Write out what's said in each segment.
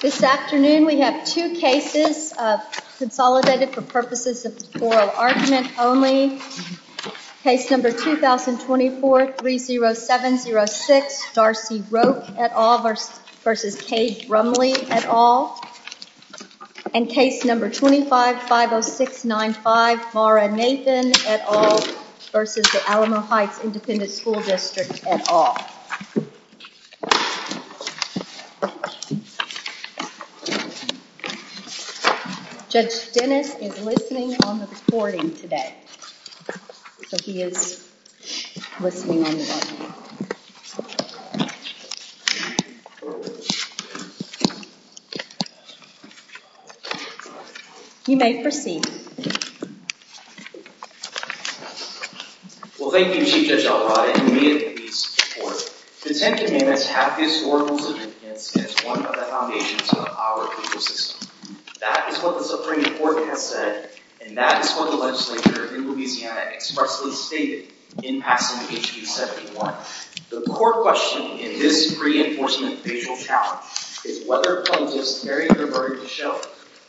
This afternoon, we have two cases consolidated for purposes of oral argument only. Case number 2024-30706, Darcy Roake et al. v. Cade Brumley et al. And case number 25-50695, Mara Nathan et al. v. Alamo Heights Independent School District et al. Judge Dennis is listening on the recording today. You may proceed. Well, thank you, Chief Judge Arroyo. I immediately support. Consent amendments have historical significance as one of the foundations of our legal system. That is what the Supreme Court has said, and that is what the legislature in Louisiana expressly stated in passing H.B. 71. The core question in this pre-enforcement special challenge is whether publicists are prepared to show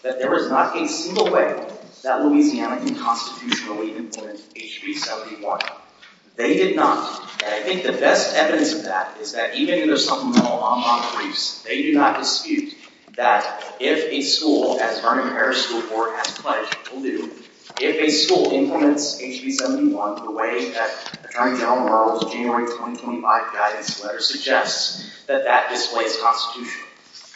that there is not a single way that Louisiana can constitutionally implement H.B. 71. They did not. And I think the best evidence of that is that even in their supplemental on-line briefs, they do not dispute that if a school, as H.B. 71 has pledged to do, if a school implements H.B. 71 in the way that Attorney General Merrill's January 2025 guidance letter suggests, that that displays prosecution.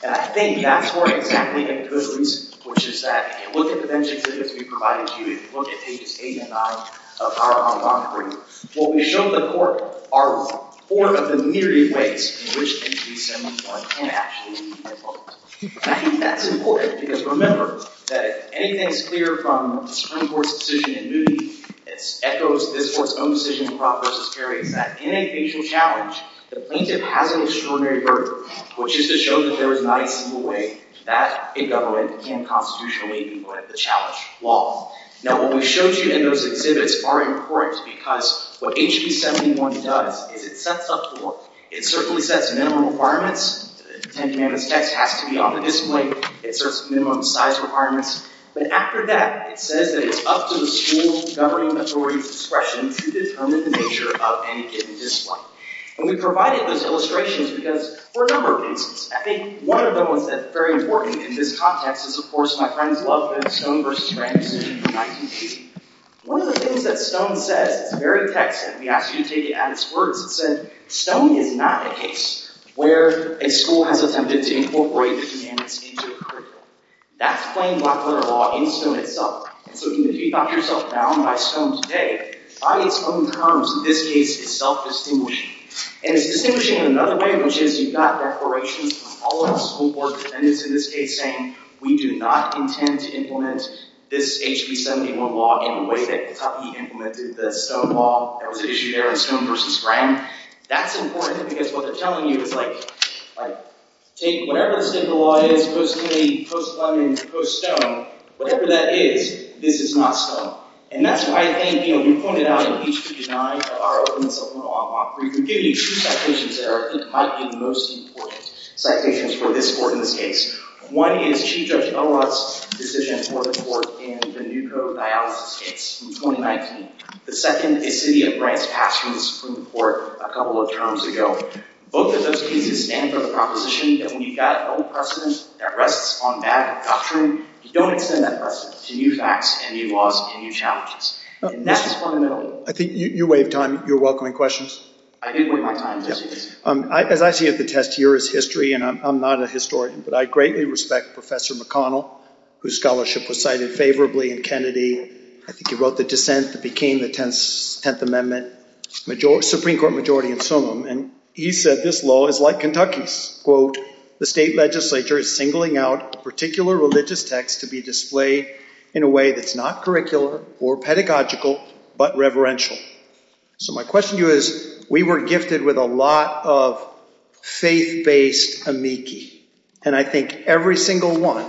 And I think that's where exactly they could lose, which is that if you look at the bench exhibits we provided to you, if you look at page 85 of our on-line brief, what we show in the court are four of the myriad ways in which H.B. 71 can actually be enforced. And I think that's important, because remember that anything that's clear from the Supreme Court's decision in Newby echoes this Court's own decision in Brock v. Carey that in a facial challenge, the plaintiff has a disciplinary burden, which is to show that there is not a single way that a government can constitutionally implement the challenge law. Now, what we show you in those exhibits are important because what H.B. 71 does is it sets up for, it certainly sets minimum requirements, and again, this text has to be on the discipline, it serves minimum size requirements, but after that, it says that it's up to the school's government authority's discretion to determine the nature of any given discipline. And we provided this illustration because, for a number of reasons. I think one of the ones that's very important in this context is, of course, my friend and beloved friend Stone v. Frank's decision in 1980. One of the things that Stone said, the very text that we asked you to take at its first, said, Stone is not the case where a school has attempted to incorporate this into its curriculum. That's Stone v. Brock v. Brock, and Stone is not. And so you can see by yourself now, by Stone's day, by its own terms, in this case, it's self-distinguishing. And it's distinguishing in another way, which is, you've got declarations from all of our school board defendants in this case saying, we do not intend to implement this H.B. 71 law in the way that you implemented the Stone law. There was an issue there in Stone v. Frank. That's important because what they're telling you is, right, whatever the state of the law is, it's supposed to be pro-Stone and pro-Stone. Whatever that is, this is not Stone. And that's why, again, you know, you pointed out in H.B. 9 of our Open Supreme Law Law, where you give you two citations that are, I think, probably the most important citations for this court in this case. One is Chief Judge Elwark's decision for the court in the new code dialysis case from 2019. The second is that it grants pass from the Supreme Court a couple of terms ago. Both of those cases stand for the proposition that when you've got old precedents that rests on bad doctrine, you don't extend that precedent to new facts, to new laws, to new challenges. And that's just one of the other ones. I think you weighed time. You were welcoming questions. I did weigh my time, yes. As I see it, the test here is history, and I'm not a historian, but I greatly respect Professor McConnell, whose scholarship was cited favorably in Kennedy. I think he wrote the dissent that became the Tenth Amendment, Supreme Court majority in Summer. And he said this law is like Kentucky. Quote, the state legislature is singling out a particular religious text to be displayed in a way that's not curricular or pedagogical but reverential. So my question to you is, we were gifted with a lot of faith-based amici, and I think every single one,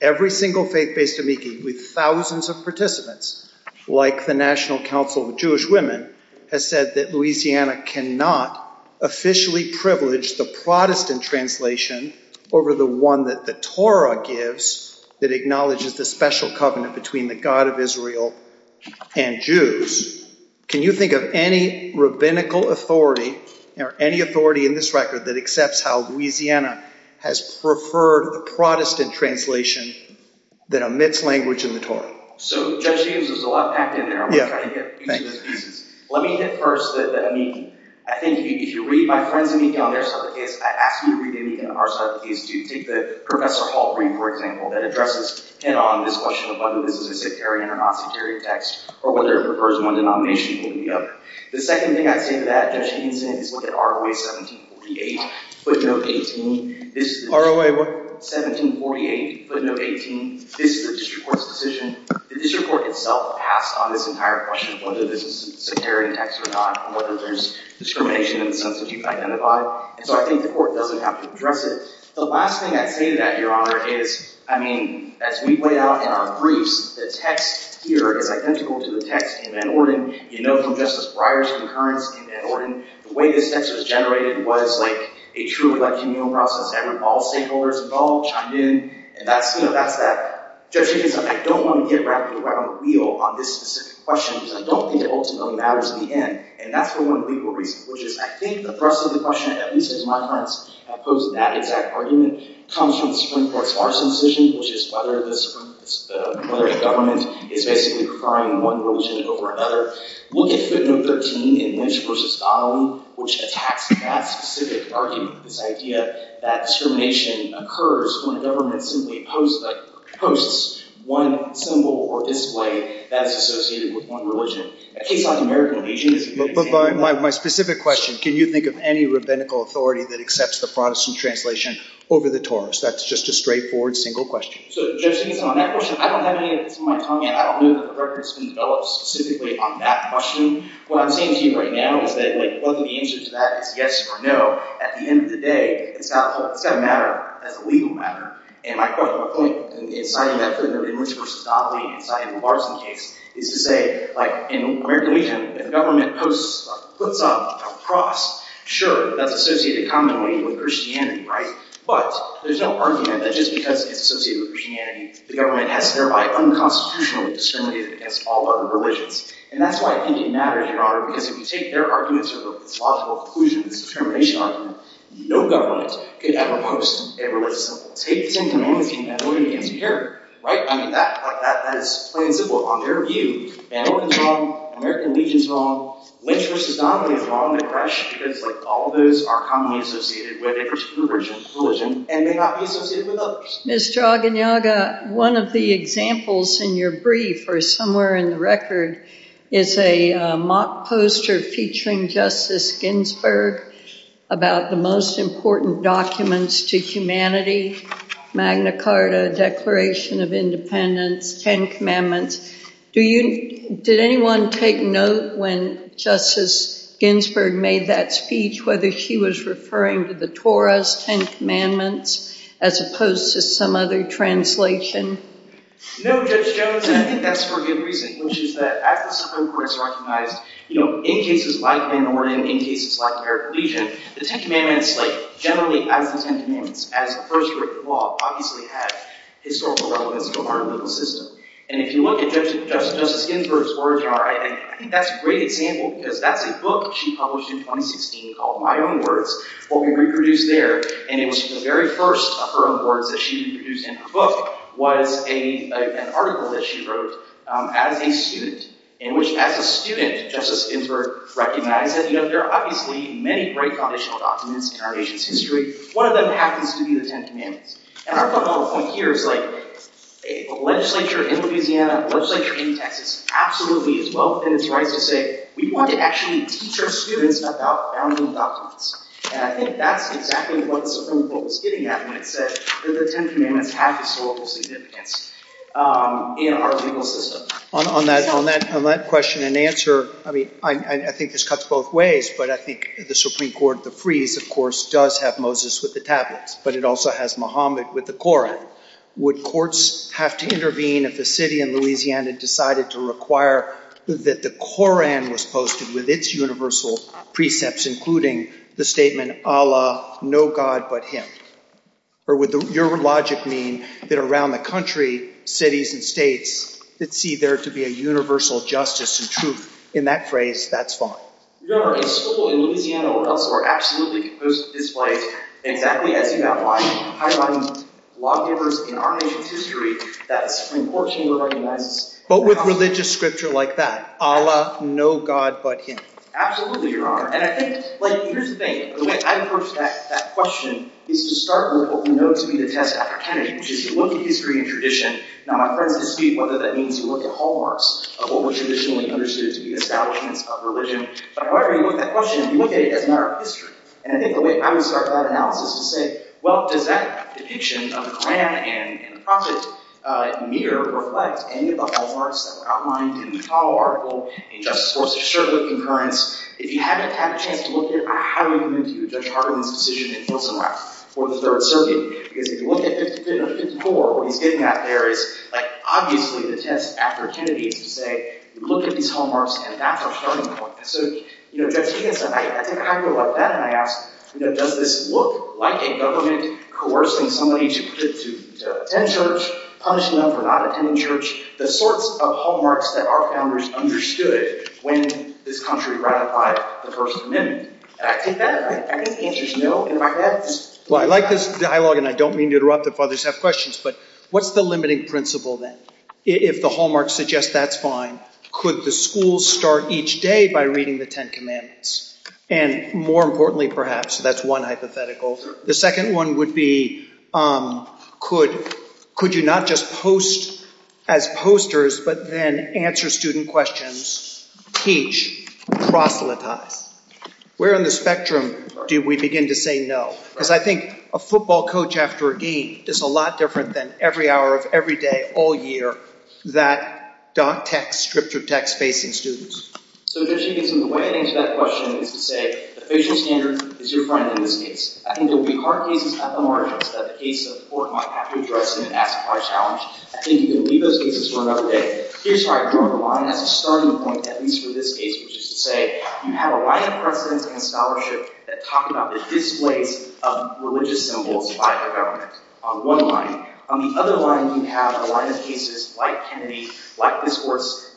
every single faith-based amici with thousands of participants, like the National Council of Jewish Women, has said that Louisiana cannot officially privilege the Protestant translation over the one that the Torah gives that acknowledges the special covenant between the God of Israel and Jews. Can you think of any rabbinical authority or any authority in this record that accepts how Louisiana has preferred a Protestant translation than a mixed language in the Torah? So, Judge Jenkins, there's a lot packed in there. Let me hit first the amici. I think if you read my friends' amici on their certificates, I ask you to read the amici on our certificates, too. Take Professor Halperin, for example, that addresses the discussion of whether this is a sectarian or non-sectarian text, or whether it refers to one denomination being the other. The second thing I'd say to that, Judge Jenkins, is look at ROA 1748, footnote 18. This is the district court's decision. The district court itself passed on this entire question of whether this is a sectarian text or not, and whether there's discrimination in the sense that you've identified. And so I think the court doesn't have to address it. The last thing I'd say to that, Your Honor, is, I mean, as we lay out in our briefs, the text here is identical to the text in Van Orden. You know from Justice Breyer's concurrence in Van Orden, the way this text was generated was like a truly ideal process. All stakeholders involved chimed in. And that's that. Judge Jenkins, I don't want to get wrapped around the wheel on this specific question, because I don't think it ultimately matters in the end. And that's for one legal reason, which is I think the thrust of the question, at least in my time as opposed to that exact argument, comes from the Supreme Court's Larson decision, which is whether the government is basically preferring one religion over another. Look at Scribner 13 in Lynch v. Stalin, which attacks that specific argument, this idea that affirmation occurs when a government simply opposes one symbol or display that is associated with one religion. My specific question, can you think of any rabbinical authority that accepts the Protestant translation over the Torah? That's just a straightforward single question. In America, the government puts up a cross. Sure, that's associated commonly with Christianity, right? But there's no argument that just because it's associated with Christianity, the government has thereby unconstitutionally discriminated against all other religions. And that's why I think it matters, Your Honor, because if you take their argument to the plausible conclusion that it's a discrimination argument, no government could ever oppose a religious symbol. Faith in humanity has already been declared, right? I mean, that is plain and simple on their view. And what is wrong? American Legion is wrong. Lynch v. Stalin is wrong, correct? Because all of those are commonly associated with a particular religion and may not be associated with others. Ms. Draganjaga, one of the examples in your brief, or somewhere in the record, is a mock poster featuring Justice Ginsburg about the most important documents to humanity, Magna Carta, Declaration of Independence, Ten Commandments. Did anyone take note when Justice Ginsburg made that speech whether she was referring to the Torah's Ten Commandments as opposed to some other translation? No, Justice Ginsburg, and I think that's for a good reason, which is that at the Supreme Court it's recognized, you know, in cases like the American Legion, the Ten Commandments, like, generally have the same ten commandments, as the first written law obviously has historical relevance to our religious system. And if you look at Justice Ginsburg's words in her writing, I think that's a great example because that's a book she published in 2016 called My Own Words, what we reproduced there, and it was the very first of her own words that she reproduced in her book was an article that she wrote as a student, in which as a student, Justice Ginsburg recognized that, you know, there are obviously many great foundational documents in our nation's history. One of them happens to be the Ten Commandments. And our fundamental point here is, like, a legislature in Louisiana, a legislature in Texas, absolutely is well within its right to say, we want to actually teach our students about foundational documents. And I think that's exactly what the Supreme Court was getting at when it said that the Ten Commandments have historical significance in our legal system. On that question and answer, I mean, I think this cuts both ways, but I think the Supreme Court of the Frees, of course, does have Moses with the tablets, but it also has Muhammad with the Koran. Would courts have to intervene if the city in Louisiana decided to require that the Koran was posted with its universal precepts, including the statement, Allah, no god but him? Or would your logic mean that around the country, cities and states, that see there to be a universal justice and truth? In that phrase, that's fine. Your Honor, the civil and Louisiana laws are absolutely opposed to this right, and that we have to do our part in highlighting lawgivers in our nation's history that, unfortunately, we're going to end. But with religious scripture like that, Allah, no god but him? Absolutely, Your Honor. And I think, like you're saying, the way I approach that question is to start with what we know to be the test of authenticity, which is to look at history and tradition. Now, I'd very much dispute whether that means to look at hallmarks of what was traditionally understood to be the establishment of religion. But however you look at that question, you look at it as an art of history. And I think the way I would start that analysis is to say, well, does that depiction of the Koran and the Prophets in here reflect any of the hallmarks that were outlined in the Apollo article in just source-assured concurrence? If you haven't had a chance to look at it, how do you convince me that Judge Harlan's decision that he wasn't right? If you look at it, it's poor. What he's getting at there is, obviously, the test of authenticity. You look at these hallmarks, and that's our starting point. So, you know, Judge, I think I agree with that. And I ask, does this look like a government coercing somebody to attend church, punish them for not attending church? The sorts of hallmarks that our Founders understood when this country ratified the First Amendment. Well, I like this dialogue, and I don't mean to interrupt if others have questions, but what's the limiting principle then? If the hallmarks suggest that's fine, could the schools start each day by reading the Ten Commandments? And more importantly, perhaps, that's one hypothetical. The second one would be, could you not just post as posters, but then answer student questions, teach, proselytize? Where on the spectrum do we begin to say no? Because I think a football coach after a dean is a lot different than every hour of every day, all year, that dot text, scripted text facing students. So Judge Jenkins, the way I think to answer that question is to say, the patient standard is your finding in this case. I think there will be hard pieces at the heart of the case that the Court might have to address in the next part of our challenge. I think you can leave those pieces for another day. Here's how I draw the line at a certain point, at least for this case, which is to say, you have a line of precedent in scholarship that talk about the displays of religious symbols by the government, on one line. On the other line, you have a line of cases like Kennedy, like this Court's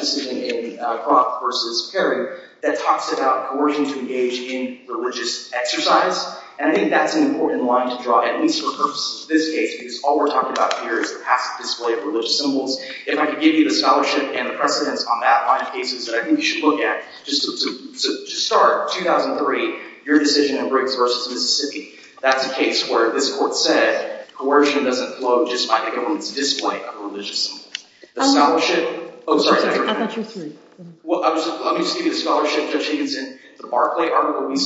decision in Brock v. Perry, that talks about coercion to engage in religious exercise. And I think that's an important line to draw, at least for purposes of this case, because all we're talking about here is perhaps the display of religious symbols. If I could give you the scholarship and the precedence on that line of cases, I think we should look at, just to start, 2003, your decision in Briggs v. Mississippi. That's a case where, as this Court said, coercion doesn't flow just by the government's display of religious symbols. The scholarship? Oh, sorry. I thought you were saying something. Well, let me just give you the scholarship precedence, and the Barclay article, and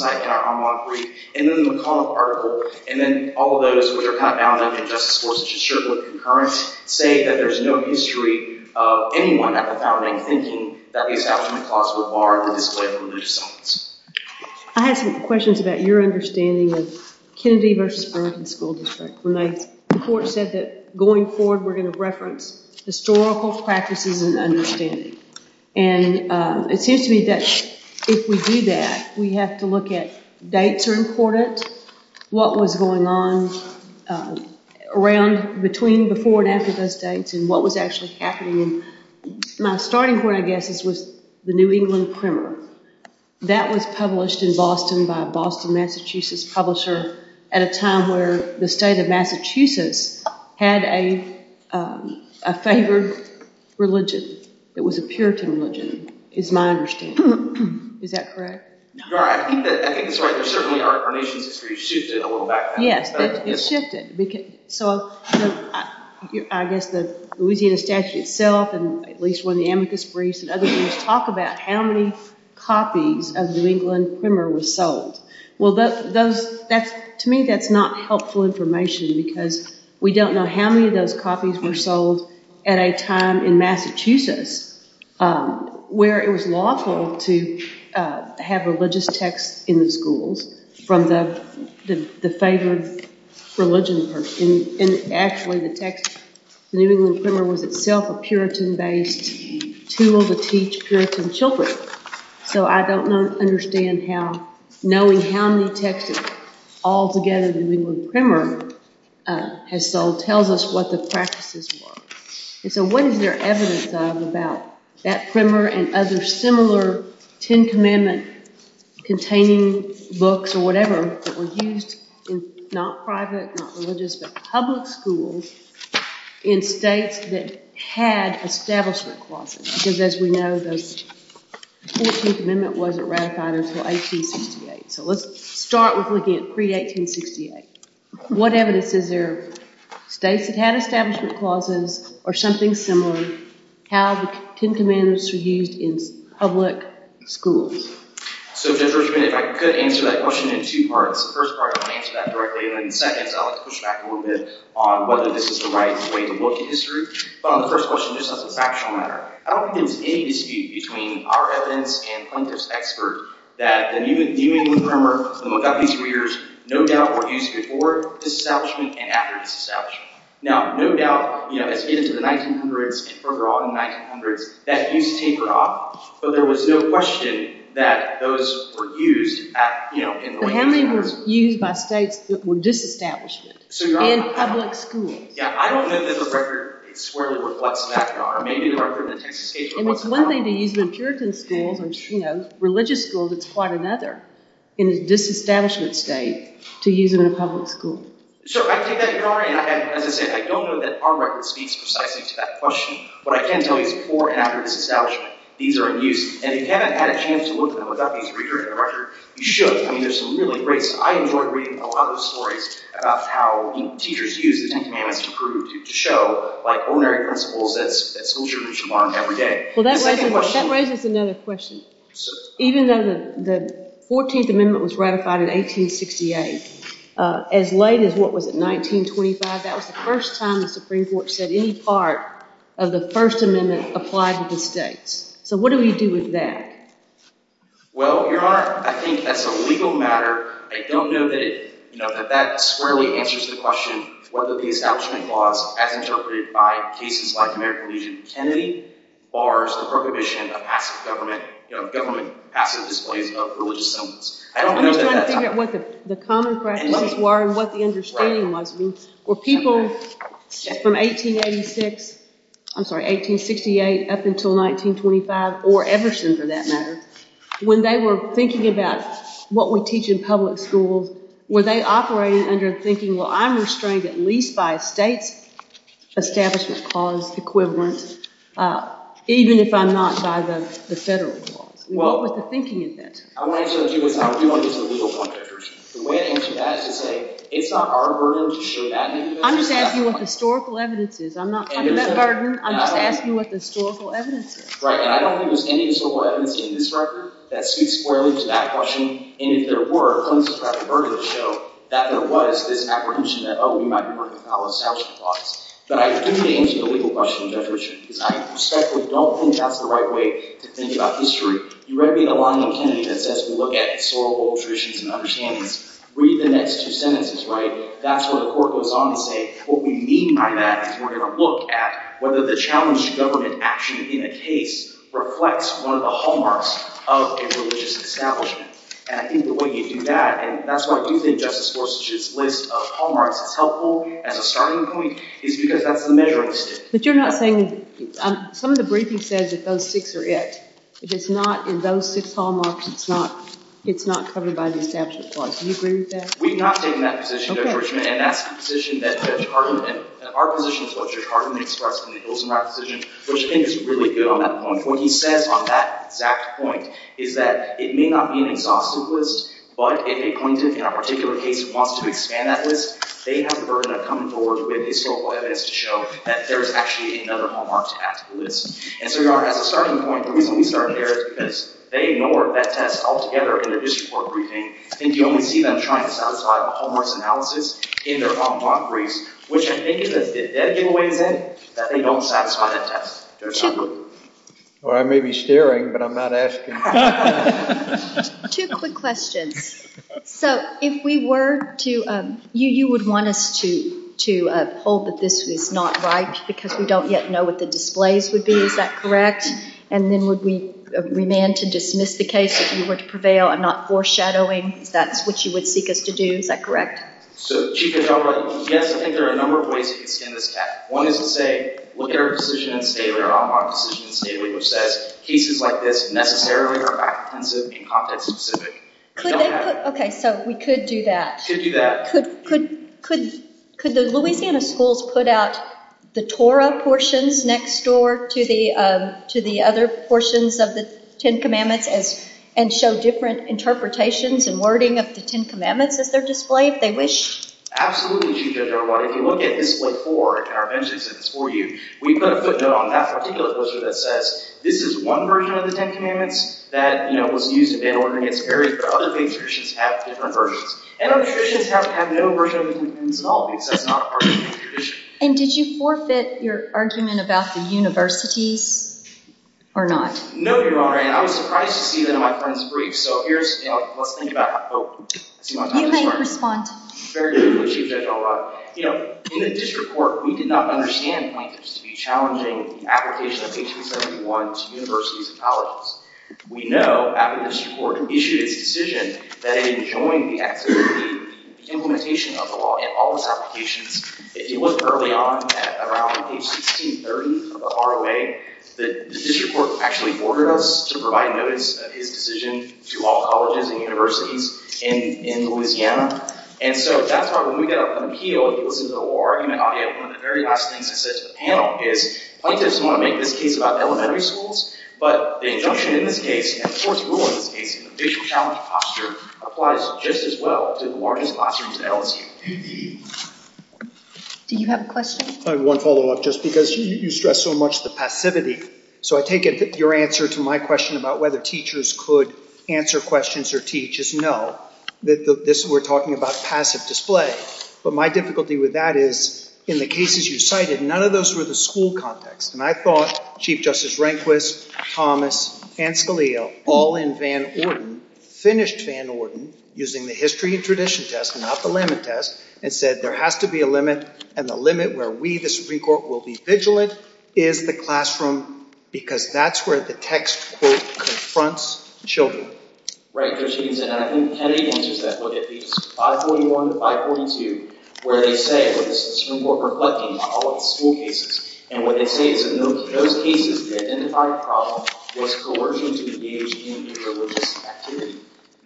then the McConnell article, and then all those that are kind of out in the injustice force, which is surely concurrent, say that there's no history of anyone at the founding thinking that the establishment clause would bar the display of religious symbols. I have some questions about your understanding of Kennedy v. Burns in the school district. The Court said that, going forward, we're going to reference historical practices and understanding. And it seems to me that if we do that, we have to look at dates are important, what was going on around, between before and after those dates, and what was actually happening. My starting point, I guess, was the New England Primer. That was published in Boston by a Boston, Massachusetts publisher at a time where the state of Massachusetts had a favored religion that was a Puritan religion, is my understanding. Is that correct? Right. I think that's right. There's certainly a reference to that a little back there. Yes. So, I guess the Louisiana statute itself, and at least when the Amicus briefs and other things talk about how many copies of the New England Primer were sold. Well, to me, that's not helpful information because we don't know how many of those copies were sold at a time in Massachusetts where it was lawful to have religious texts in the schools from the favored religion. And actually, the New England Primer was itself a Puritan-based tool to teach Puritan children. So, I don't understand how knowing how many texts altogether the New England Primer had sold tells us what the practices were. And so, what is there evidence of about that Primer and other similar Ten Commandments containing books or whatever that were used in not private, not religious, but public schools in states that had establishment clauses? Because as we know, the 14th Amendment wasn't ratified until 1868. So, let's start with looking at pre-1868. What evidence is there states that had establishment clauses or something similar had Ten Commandments to be used in public schools? So, Jennifer, if I could answer that question in two parts. The first part, I'll answer that directly, and in a second, I'll push back a little bit on whether this is the right way to look at history. The first question is on the factual matter. I don't think there's any dispute between our evidence and Congress' experts that the New England Primer, among other things for years, no doubt were used before it was established and after it was established. Now, no doubt, as it is in the 1900s and overall in the 1900s, that use tapered off, but there was no question that those were used in religious schools. So, how many were used by states that were disestablished in public schools? Yeah, I don't know that the record squarely reflects that. Maybe the record in the Texas case was less than one. And it's one thing to use them in a puritan school, which, you know, religious schools is quite another in a disestablished state to use in a public school. I don't know that our record speaks precisely to that question, but I can tell you that before and after it was established, these are in use. And if you haven't had a chance to look at the McGuffin's record, you should. I mean, there's some really great, I enjoyed reading a lot of the stories about how teachers used these enhanced proofs to show, like, ordinary principles that schoolchildren should learn every day. That raises another question. Even though the 14th Amendment was ratified in 1868, as late as, what was it, 1925, that was the first time the Supreme Court said any part of the First Amendment applied to the states. So, what do we do with that? Well, Your Honor, I think that's a legal matter. I don't know that it, you know, that that squarely answers the question whether the establishment laws as interpreted by cases like American Legion Kennedy bars the prohibition of acts of government, you know, government acts of displacement of religious elements. I'm just trying to figure out what the comments were and what the understanding was. Were people from 1886, I'm sorry, 1868 up until 1925, or ever since for that matter, when they were thinking about what would teach in public schools, were they operating under the thinking, well, I'm restrained at least by state establishment laws equivalent, even if I'm not by the federal law. What was the thinking in that? I want to answer that, Your Honor. The way I answer that is to say, it's not our burden to show that information. I'm just asking what the historical evidence is. I'm not asking that burden. I'm just asking what the historical evidence is. Right, and I don't think there's any historical evidence in this record that speaks squarely to that question, and if there were, that there was this apprehension that, oh, we might be working on our establishment laws. But I do think it's a legal question, but I respectfully don't think that's the right way to think about history. You read the Alonzo Kennedy that says, look at historical traditions and understandings. Read the next two sentences, right? That's what the court goes on to say. What we mean by that is we're going to look at whether the challenge of government action in a case reflects one of the hallmarks of a religious establishment. And I think that when you do that, and that's why we think Justice Gorsuch's list of hallmarks are helpful as a starting point, is because that's the mega list. But you're not saying, some of the briefing says that those six are it. If it's not in those six hallmarks, it's not covered by the establishment law. Do you agree with that? We've not taken that position, Judge Richmond. Okay. And that's the position that Judge Hardiman, and our position as well as Judge Hardiman, starts when he goes into our position, which I think is really good on that point. Is that it may not be an exhaustive list, but if a content in a particular case wants to expand that list, they have the burden of coming forward with historical evidence to show that there is actually another hallmark attached to the list. And so as a starting point, the reason we started there is because they ignored that test altogether in their district court briefing, and you only see them trying to satisfy the hallmarks analysis in their Hong Kong briefs, which I think is a dead giveaway today that they don't satisfy that test. That's true. I may be staring, but I'm not asking. Two quick questions. So if we were to, you would want us to hold that this is not right because we don't yet know what the displays would be. Is that correct? And then would we demand to dismiss the case if you were to prevail and not foreshadowing? That's what you would seek us to do. Is that correct? Yes, I think there are a number of ways to extend this test. One is to say, look at our position in the state of Hong Kong, which says cases like this necessarily are offensive in context specific. Okay, so we could do that. Could do that. Could the Louisiana schools put out the Torah portions next door to the other portions of the Ten Commandments and show different interpretations and wording of the Ten Commandments that they're displayed, if they wish? Absolutely. If you look at this report, and I've mentioned this before to you, we've got a footnote on that particular poster that says, this is one version of the Ten Commandments that was used in Babylon against Perish, but other great traditions have different versions. Other traditions have no version of the Ten Commandments at all, except in our original tradition. And did you forfeit your argument about the university or not? No, Your Honor, and I was surprised to see that in my friend's brief. So here's, let's think about it. Do you want to talk about it? You guys respond. Very good. Appreciate that, Your Honor. You know, in this report, we did not understand how this would be challenging an application of 1871 to universities and colleges. We know after this report issued a decision that it enjoined the activity and implementation of the law in all its applications. If you look early on, at around 1830, or our way, the district court actually ordered us to provide notice of its decision to all colleges and universities in Louisiana. And so that's why when we get up on the Hill, it goes into a little argument on it. One of the very last things I said to the panel is, colleges want to make this case about elementary schools, but the injunction in this case, and of course the rule in this case, the judicial challenge posture, applies just as well to more of these classrooms in LSU. Do you have a question? I have one follow-up, just because you stress so much the passivity. So I take it that your answer to my question about whether teachers could answer questions or teach is no. We're talking about passive display. But my difficulty with that is, in the cases you cited, none of those were the school context. And I thought Chief Justice Rehnquist, and Scalia, all in Van Orden, finished Van Orden, using the history and tradition test, not the limit test, and said there has to be a limit, and the limit where we, the Supreme Court, will be vigilant is the classroom, because that's where the text, quote, 541 to 542, where they say, the Supreme Court reflecting on all of the school cases, and what they say is, in those cases, they identified the problem was coercion to engage in religious activity.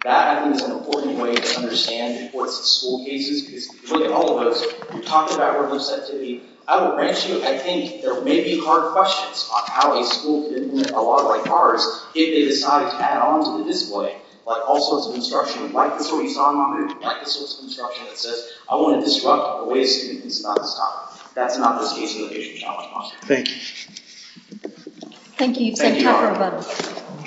That, I think, is an important way to understand, of course, the school cases, because if you look at all of those, you're talking about religious activity. I will mention, I think there may be hard questions on how a school didn't have a lot of right powers if they decided to add on to the display, but also, as an instruction, like before you saw in my hand, practice this instruction that says, I want to disrupt the way a student thinks about this topic. That's not the space for the patient to have a response. Thank you. Thank you. Thank you.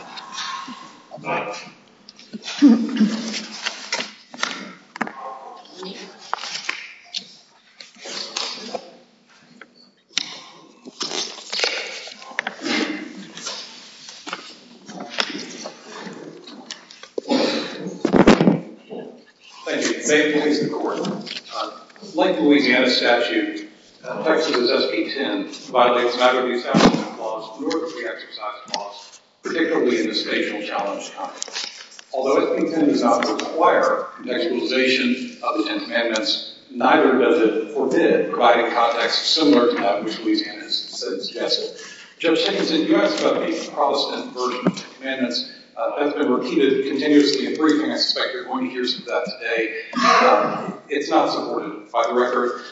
Thank you. May I please be recorded? Like the Louisiana statute, the effects of this SB 10 provide anxiety-accompanying flaws, and nervously-exercised flaws, particularly in the spatial challenge context. Although SB 10 does not require contextualization of the Ten Commandments, neither does it forbid providing context similar to that which Louisiana's sentence suggests. Judge Simpkins, you have spoken in the Protestant version of the Ten Commandments that's been repeated, and frequently. I expect you're going to hear some of that today. It's not supported, by the record.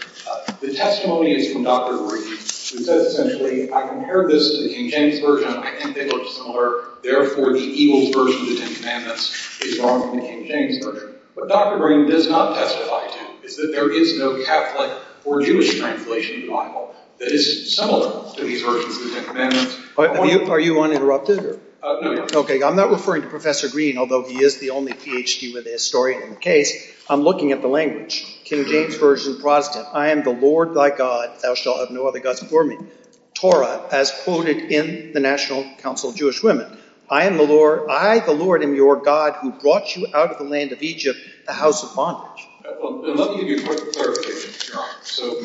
The testimony is from Dr. Green, who said, I compared this to King James Version. I think they look similar. Therefore, the evil version of the Ten Commandments is wrong in the King James Version. What Dr. Green does not testify to is that there is no Catholic or Jewish translation in my book that is similar to these versions of the Ten Commandments. Are you uninterrupted? Okay. I'm not referring to Professor Green, although he is the only Ph.D. with a historian case. I'm looking at the language. King James Version, Protestant. I am the Lord thy God, thou shalt have no other gods before me. Torah, as quoted in the National Council of Jewish Women. I am the Lord, I the Lord am your God, who brought you out of the land of Egypt, the house of bondage. Well, let me give you a quick clarification. So,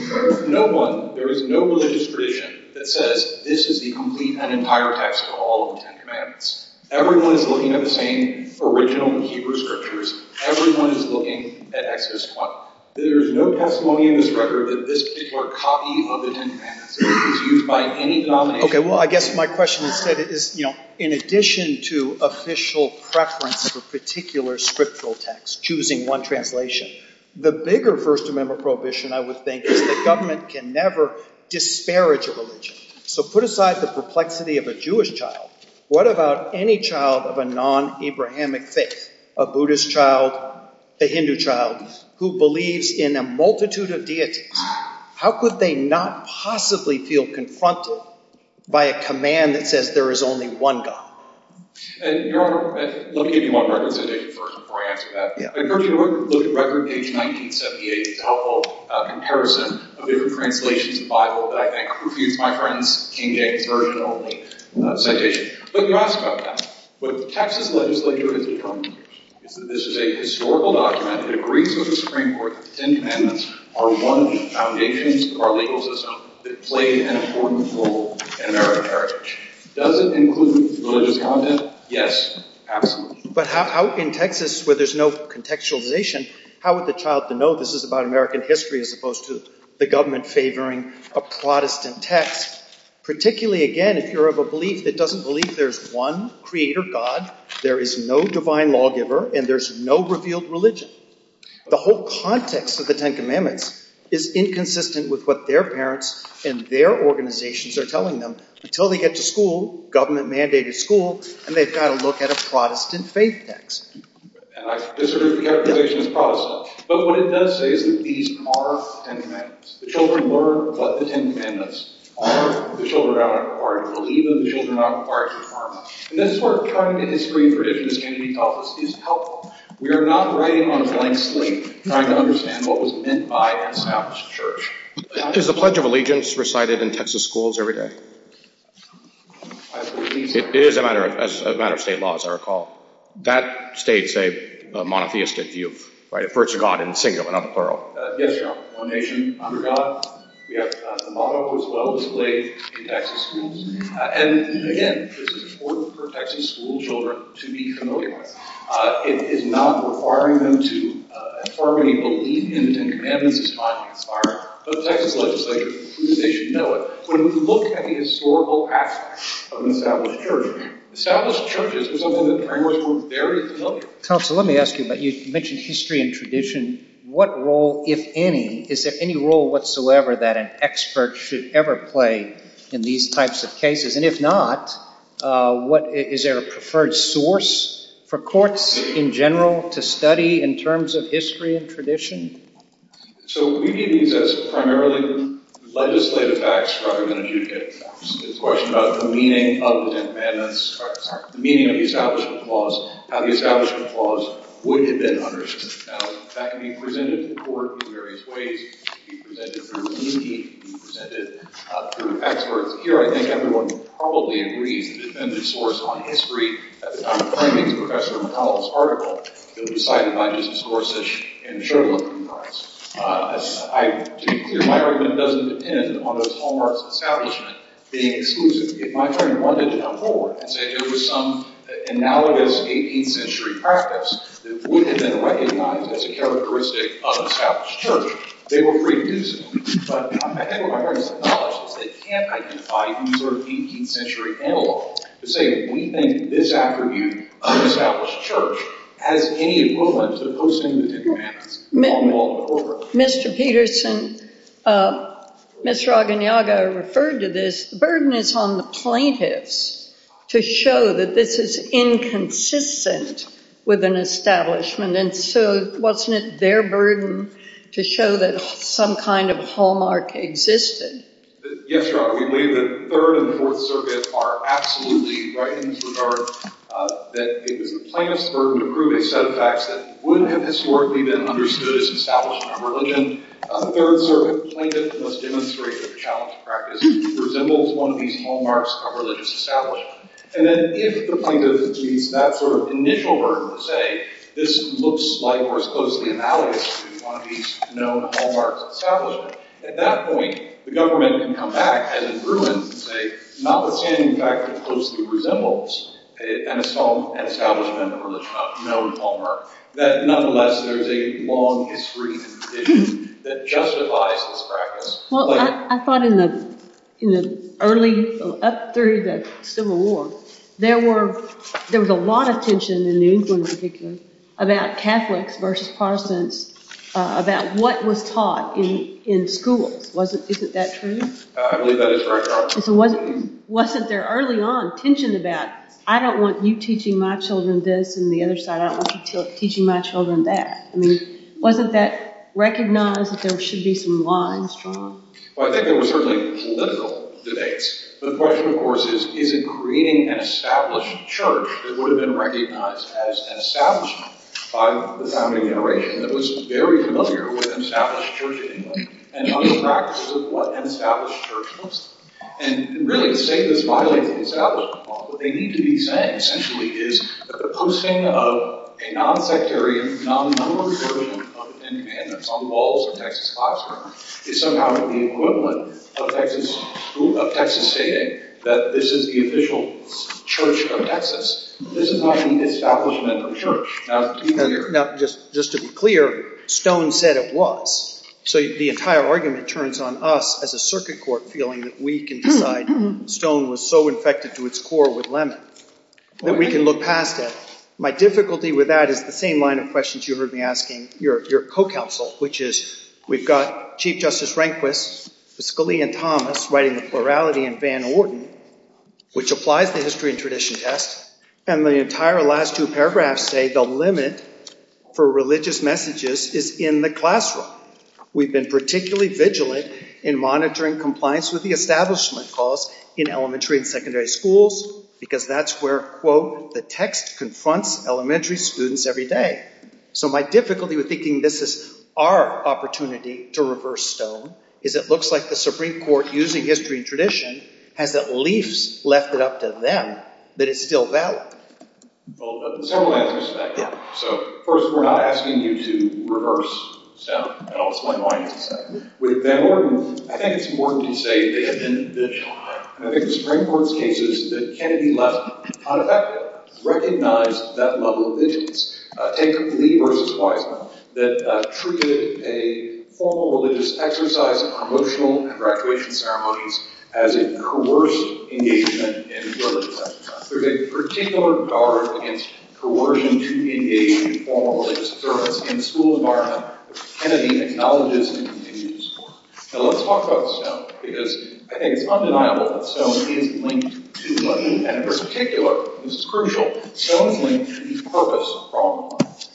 no one, there is no religious tradition that says, this is the complete and entire text of all of the Ten Commandments. Everyone is looking at the same original Hebrew scriptures. Everyone is looking at Exodus 1. There is no testimony in this record that this particular copy of the Ten Commandments is used by any domination. Okay, well, I guess my question is that in addition to official preference for particular scriptural texts, choosing one translation, the bigger First Amendment prohibition, I would think, is that the government can never disparage a religion. So, put aside the perplexity of a Jewish child, what about any child of a non-Abrahamic faith? A Buddhist child, a Hindu child, who believes in a multitude of deities. How could they not possibly feel confronted by a command that says there is only one God? And, your Honor, let me give you one more clarification before I ask you that. Yeah. I've heard you look at record page 1978 a couple of comparisons of Hebrew translations in the Bible that I think, excuse my French, can get very lonely. But, you ask about that. But, Texas legislature is determined that this is a historical document that agrees with the Supreme Court that the Ten Commandments are one of the foundations of our legal system that played an important role in American heritage. Does it include religious tolerance? Yes. Absolutely. But, out in Texas, where there's no contextualization, how would the child know this is about American history as opposed to the government favoring a Protestant text? Particularly, again, if you're of a belief that doesn't believe there's one creator God, there is no divine lawgiver, and there's no revealed religion. The whole context of the Ten Commandments is inconsistent with what their parents and their organizations are telling them until they get to school, government-mandated school, and they've got to look at a Protestant faith text. And I disagree with your interpretation of Protestant. But, what it does say is that these are Ten Commandments. The children learn what the Ten Commandments are. The children are required to believe, and the children are required to learn. And this work, trying to make history for Christians can be thoughtless. It's helpful. We are not writing on a blank slate trying to understand what was meant by an established church. Is the Pledge of Allegiance recited in Texas schools every day? It is, as a matter of state law, as I recall. That states a monotheistic view, right, a virtue of God in singular, not plural. Yes, Your Honor. One nation under God. We have the motto, as well as the leg, in Texas schools. And, again, this is important for Texas school children to be familiar with. It is not requiring them to formally believe in the Ten Commandments as much as required. But the Texas legislature should know it. So, when you look at the historical aspect of an established church, established churches are something that parents were very familiar with. Counselor, let me ask you about, you mentioned history and tradition. What role, if any, is there any role, that an expert should ever play in these types of cases? And, if not, is there a preferred source for courts, in general, to study in terms of history and tradition? So, we can use this primarily legislative facts rather than judicial facts. The question of the meaning of the Ten Commandments, the meaning of the Establishment Clause, how the Establishment Clause would have been understood. That can be presented to the court in various ways. It can be presented through a meeting. It can be presented through experts. Here, I think everyone would probably agree that the source on history, as I'm claiming from Professor McCollum's article, it was cited by Justice Gorsuch in the Sherwood Comprise. My argument doesn't depend on those hallmarks of the Establishment being exclusive. My argument is more than that. There is some analogous 18th century practice that would have been recognized as a of an established church. They were pretty exclusive. But I think what I want to acknowledge is that it can't identify these sort of 18th century analogs to say we think this attribute of an established church has any equivalent to the person who did it. Mr. Peterson, Mr. Agoniaga referred to this. The burden is on the plaintiffs to show that this is inconsistent with an establishment. So wasn't it their burden to show that some kind of existed? Yes, Your Honor. We believe that the Third and Fourth Circuit are absolutely right in this regard that the plaintiffs' burden to prove a set of facts that would have historically been understood as an of religion on the Third Circuit plaintiff must demonstrate that the challenge practice resembles one of these hallmarks of religious establishment. And then if the can use that sort of initial burden to say this looks like or is supposed to be analogous to one of these known hallmarks of religious At that point, the government can come back as a ruin and say it's not the same fact that it closely resembles an establishment or a known hallmark. Nonetheless, there's a long history that justifies this practice. I thought in the early, up through the Civil War, there was a lot of tension in New England particularly about Catholics versus Protestants about what was taught in school. Isn't that true? Wasn't there early on tension about I don't want you teaching my children this and the other side I don't want you teaching my children that. Wasn't that recognized there should be some established church that would have been recognized as an by the founding generation that was very familiar with an church in and other practices of what an church was. And really to say that's why they were established they need to be said essentially is that the pursing of a non-bacterian non-numeric area of Texas classroom is somehow equivalent of Texas stating that this is the official church of Texas. This is not an establishment of a church. just to be clear, Stone said it was. So the entire argument turns on us as a circuit court feeling that we can look past it. My difficulty with that is the same line of you heard me asking your co-counsel which is we have Chief Justice Rehnquist and the entire last two say the limit for religious messages is in the classroom. We've been particularly vigilant in monitoring compliance with the establishment cause in elementary and schools because that's where the text confronts elementary students every day. So my difficulty with thinking this is our opportunity to Stone is it looks like the Supreme Court using history and has at least left it up to them that it's still valid. So first we're not asking you to reverse Stone. I'll explain why in a second. I think it's important to say that in the Supreme Court's cases that Kennedy recognized that level of vigilance. I think that religious exercises and ceremonies as a coercive engagement in religion. There's a particular guard against coercion to engage in formal religious services in school environment that Kennedy acknowledges and continues to support. Now let's talk about Stone because I think it's undeniable that Stone is linked to money and in particular he's crucial in the purpose of The purpose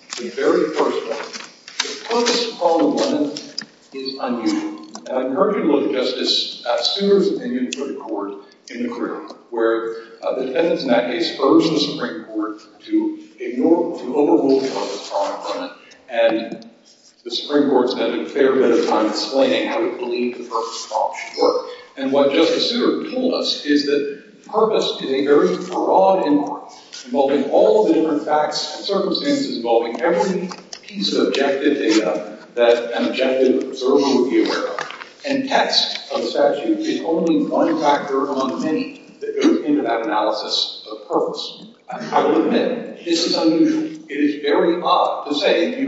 of the problem is unusual. I've heard Justice Summers in the Supreme Court where the Court has a fair bit of time to explain how it works and what Justice Summers told us is that purpose is a very broad remark involving all different facts and circumstances involving every piece of objective data that an objective is it's only one factor among many that goes into that analysis of I would admit that this is unusual. is very odd to say that you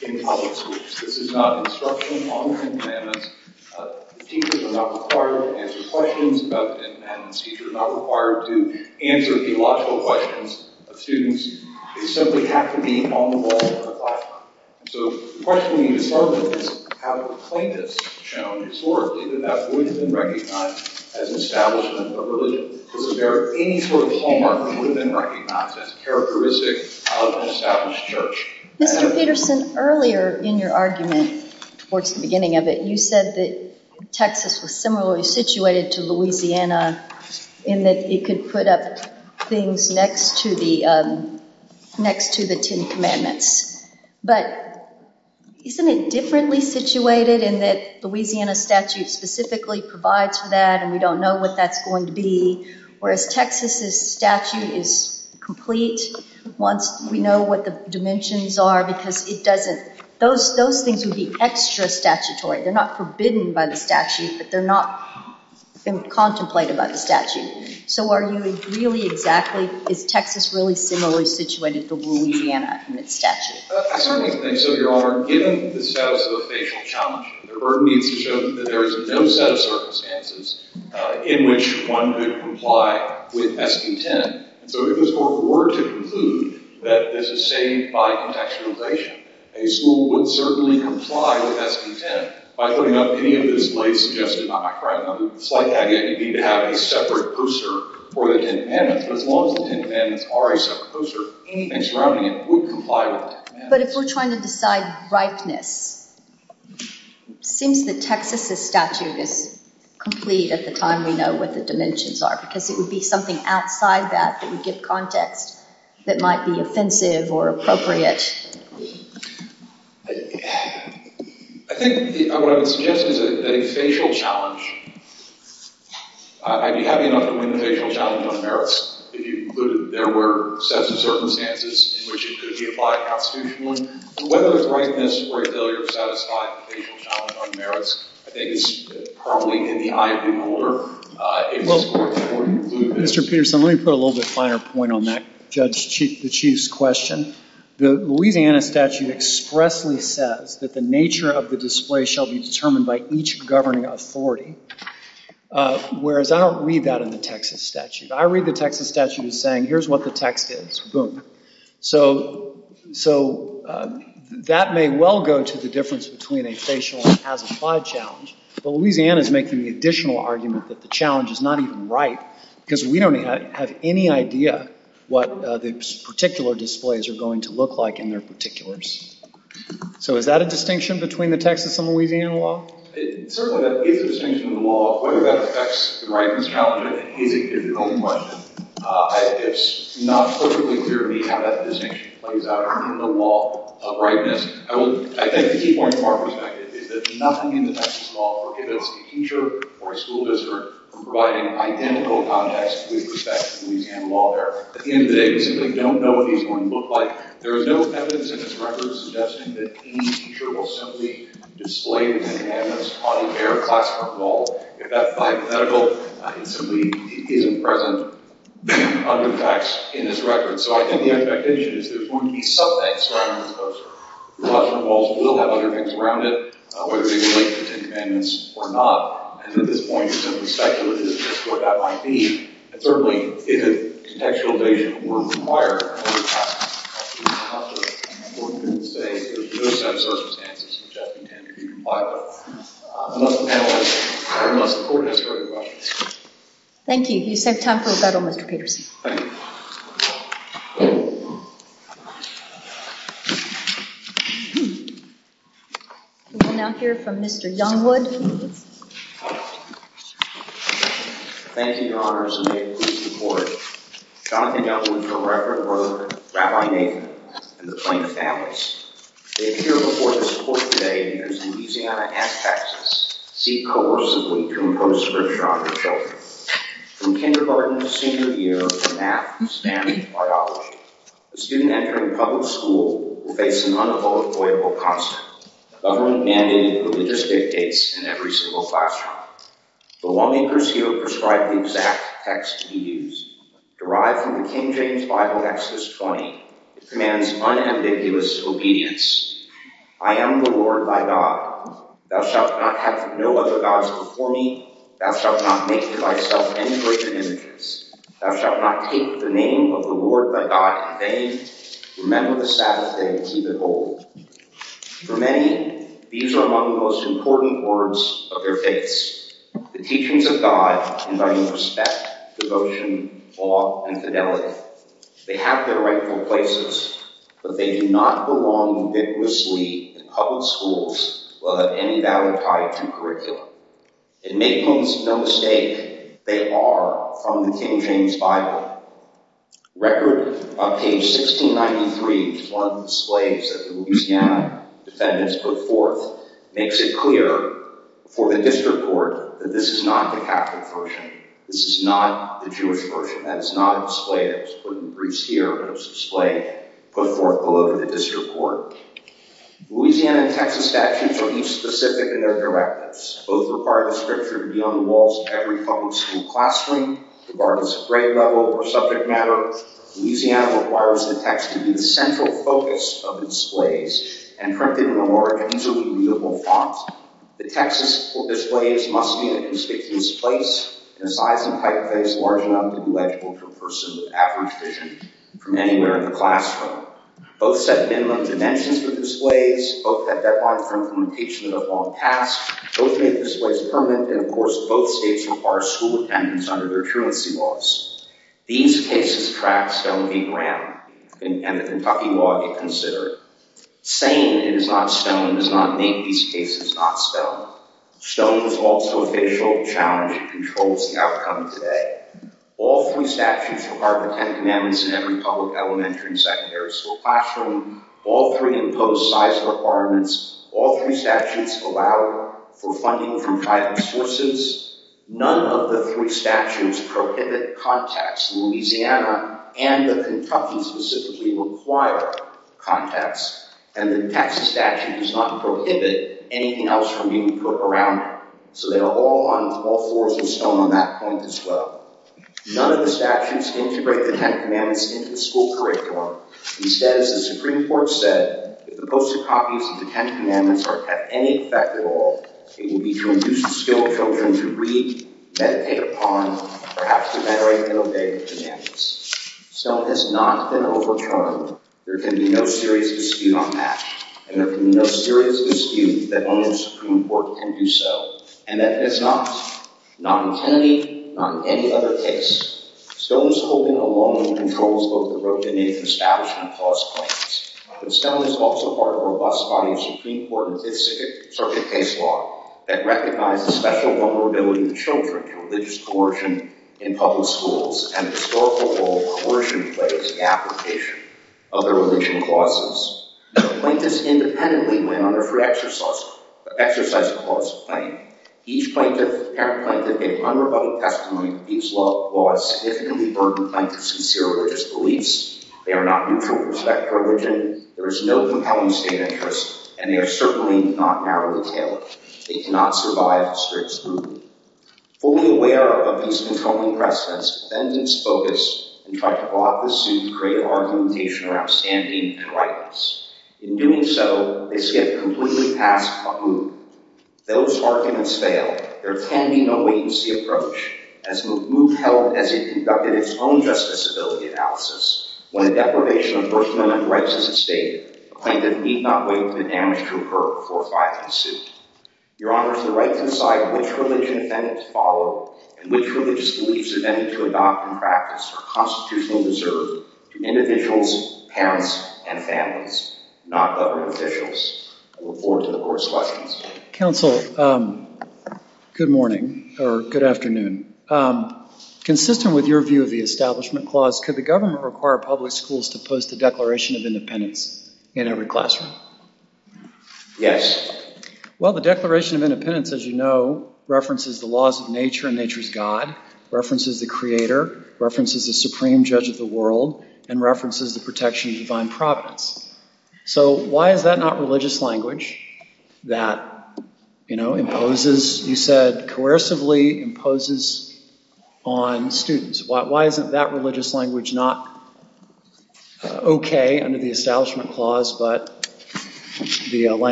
get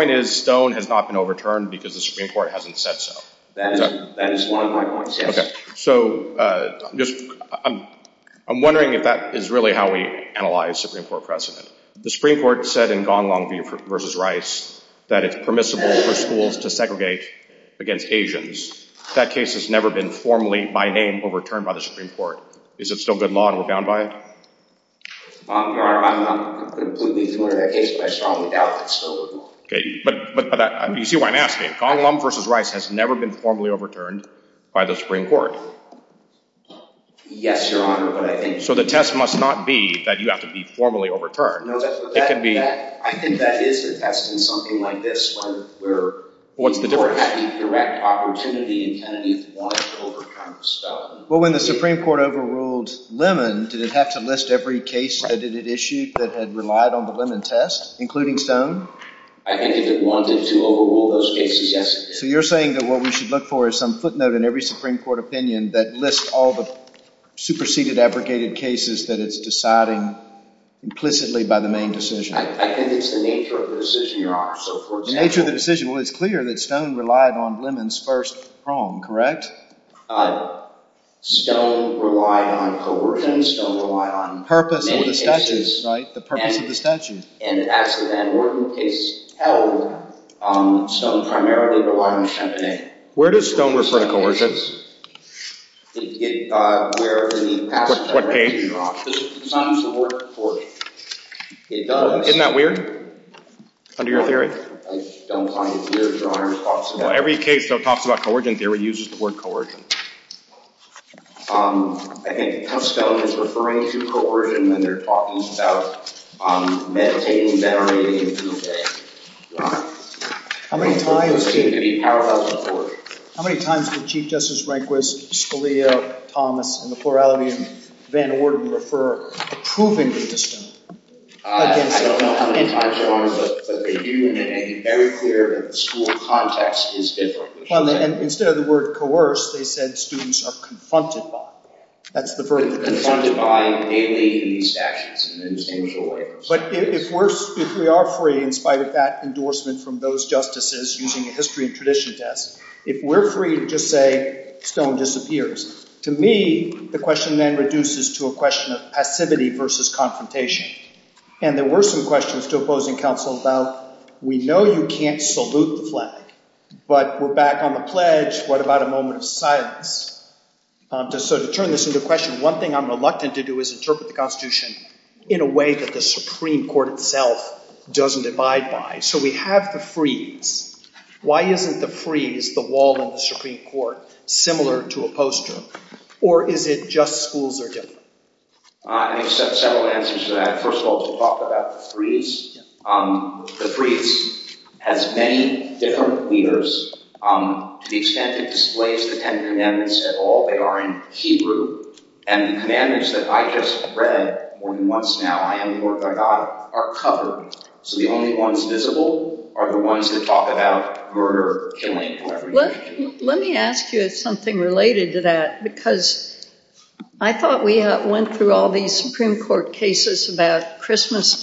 lot what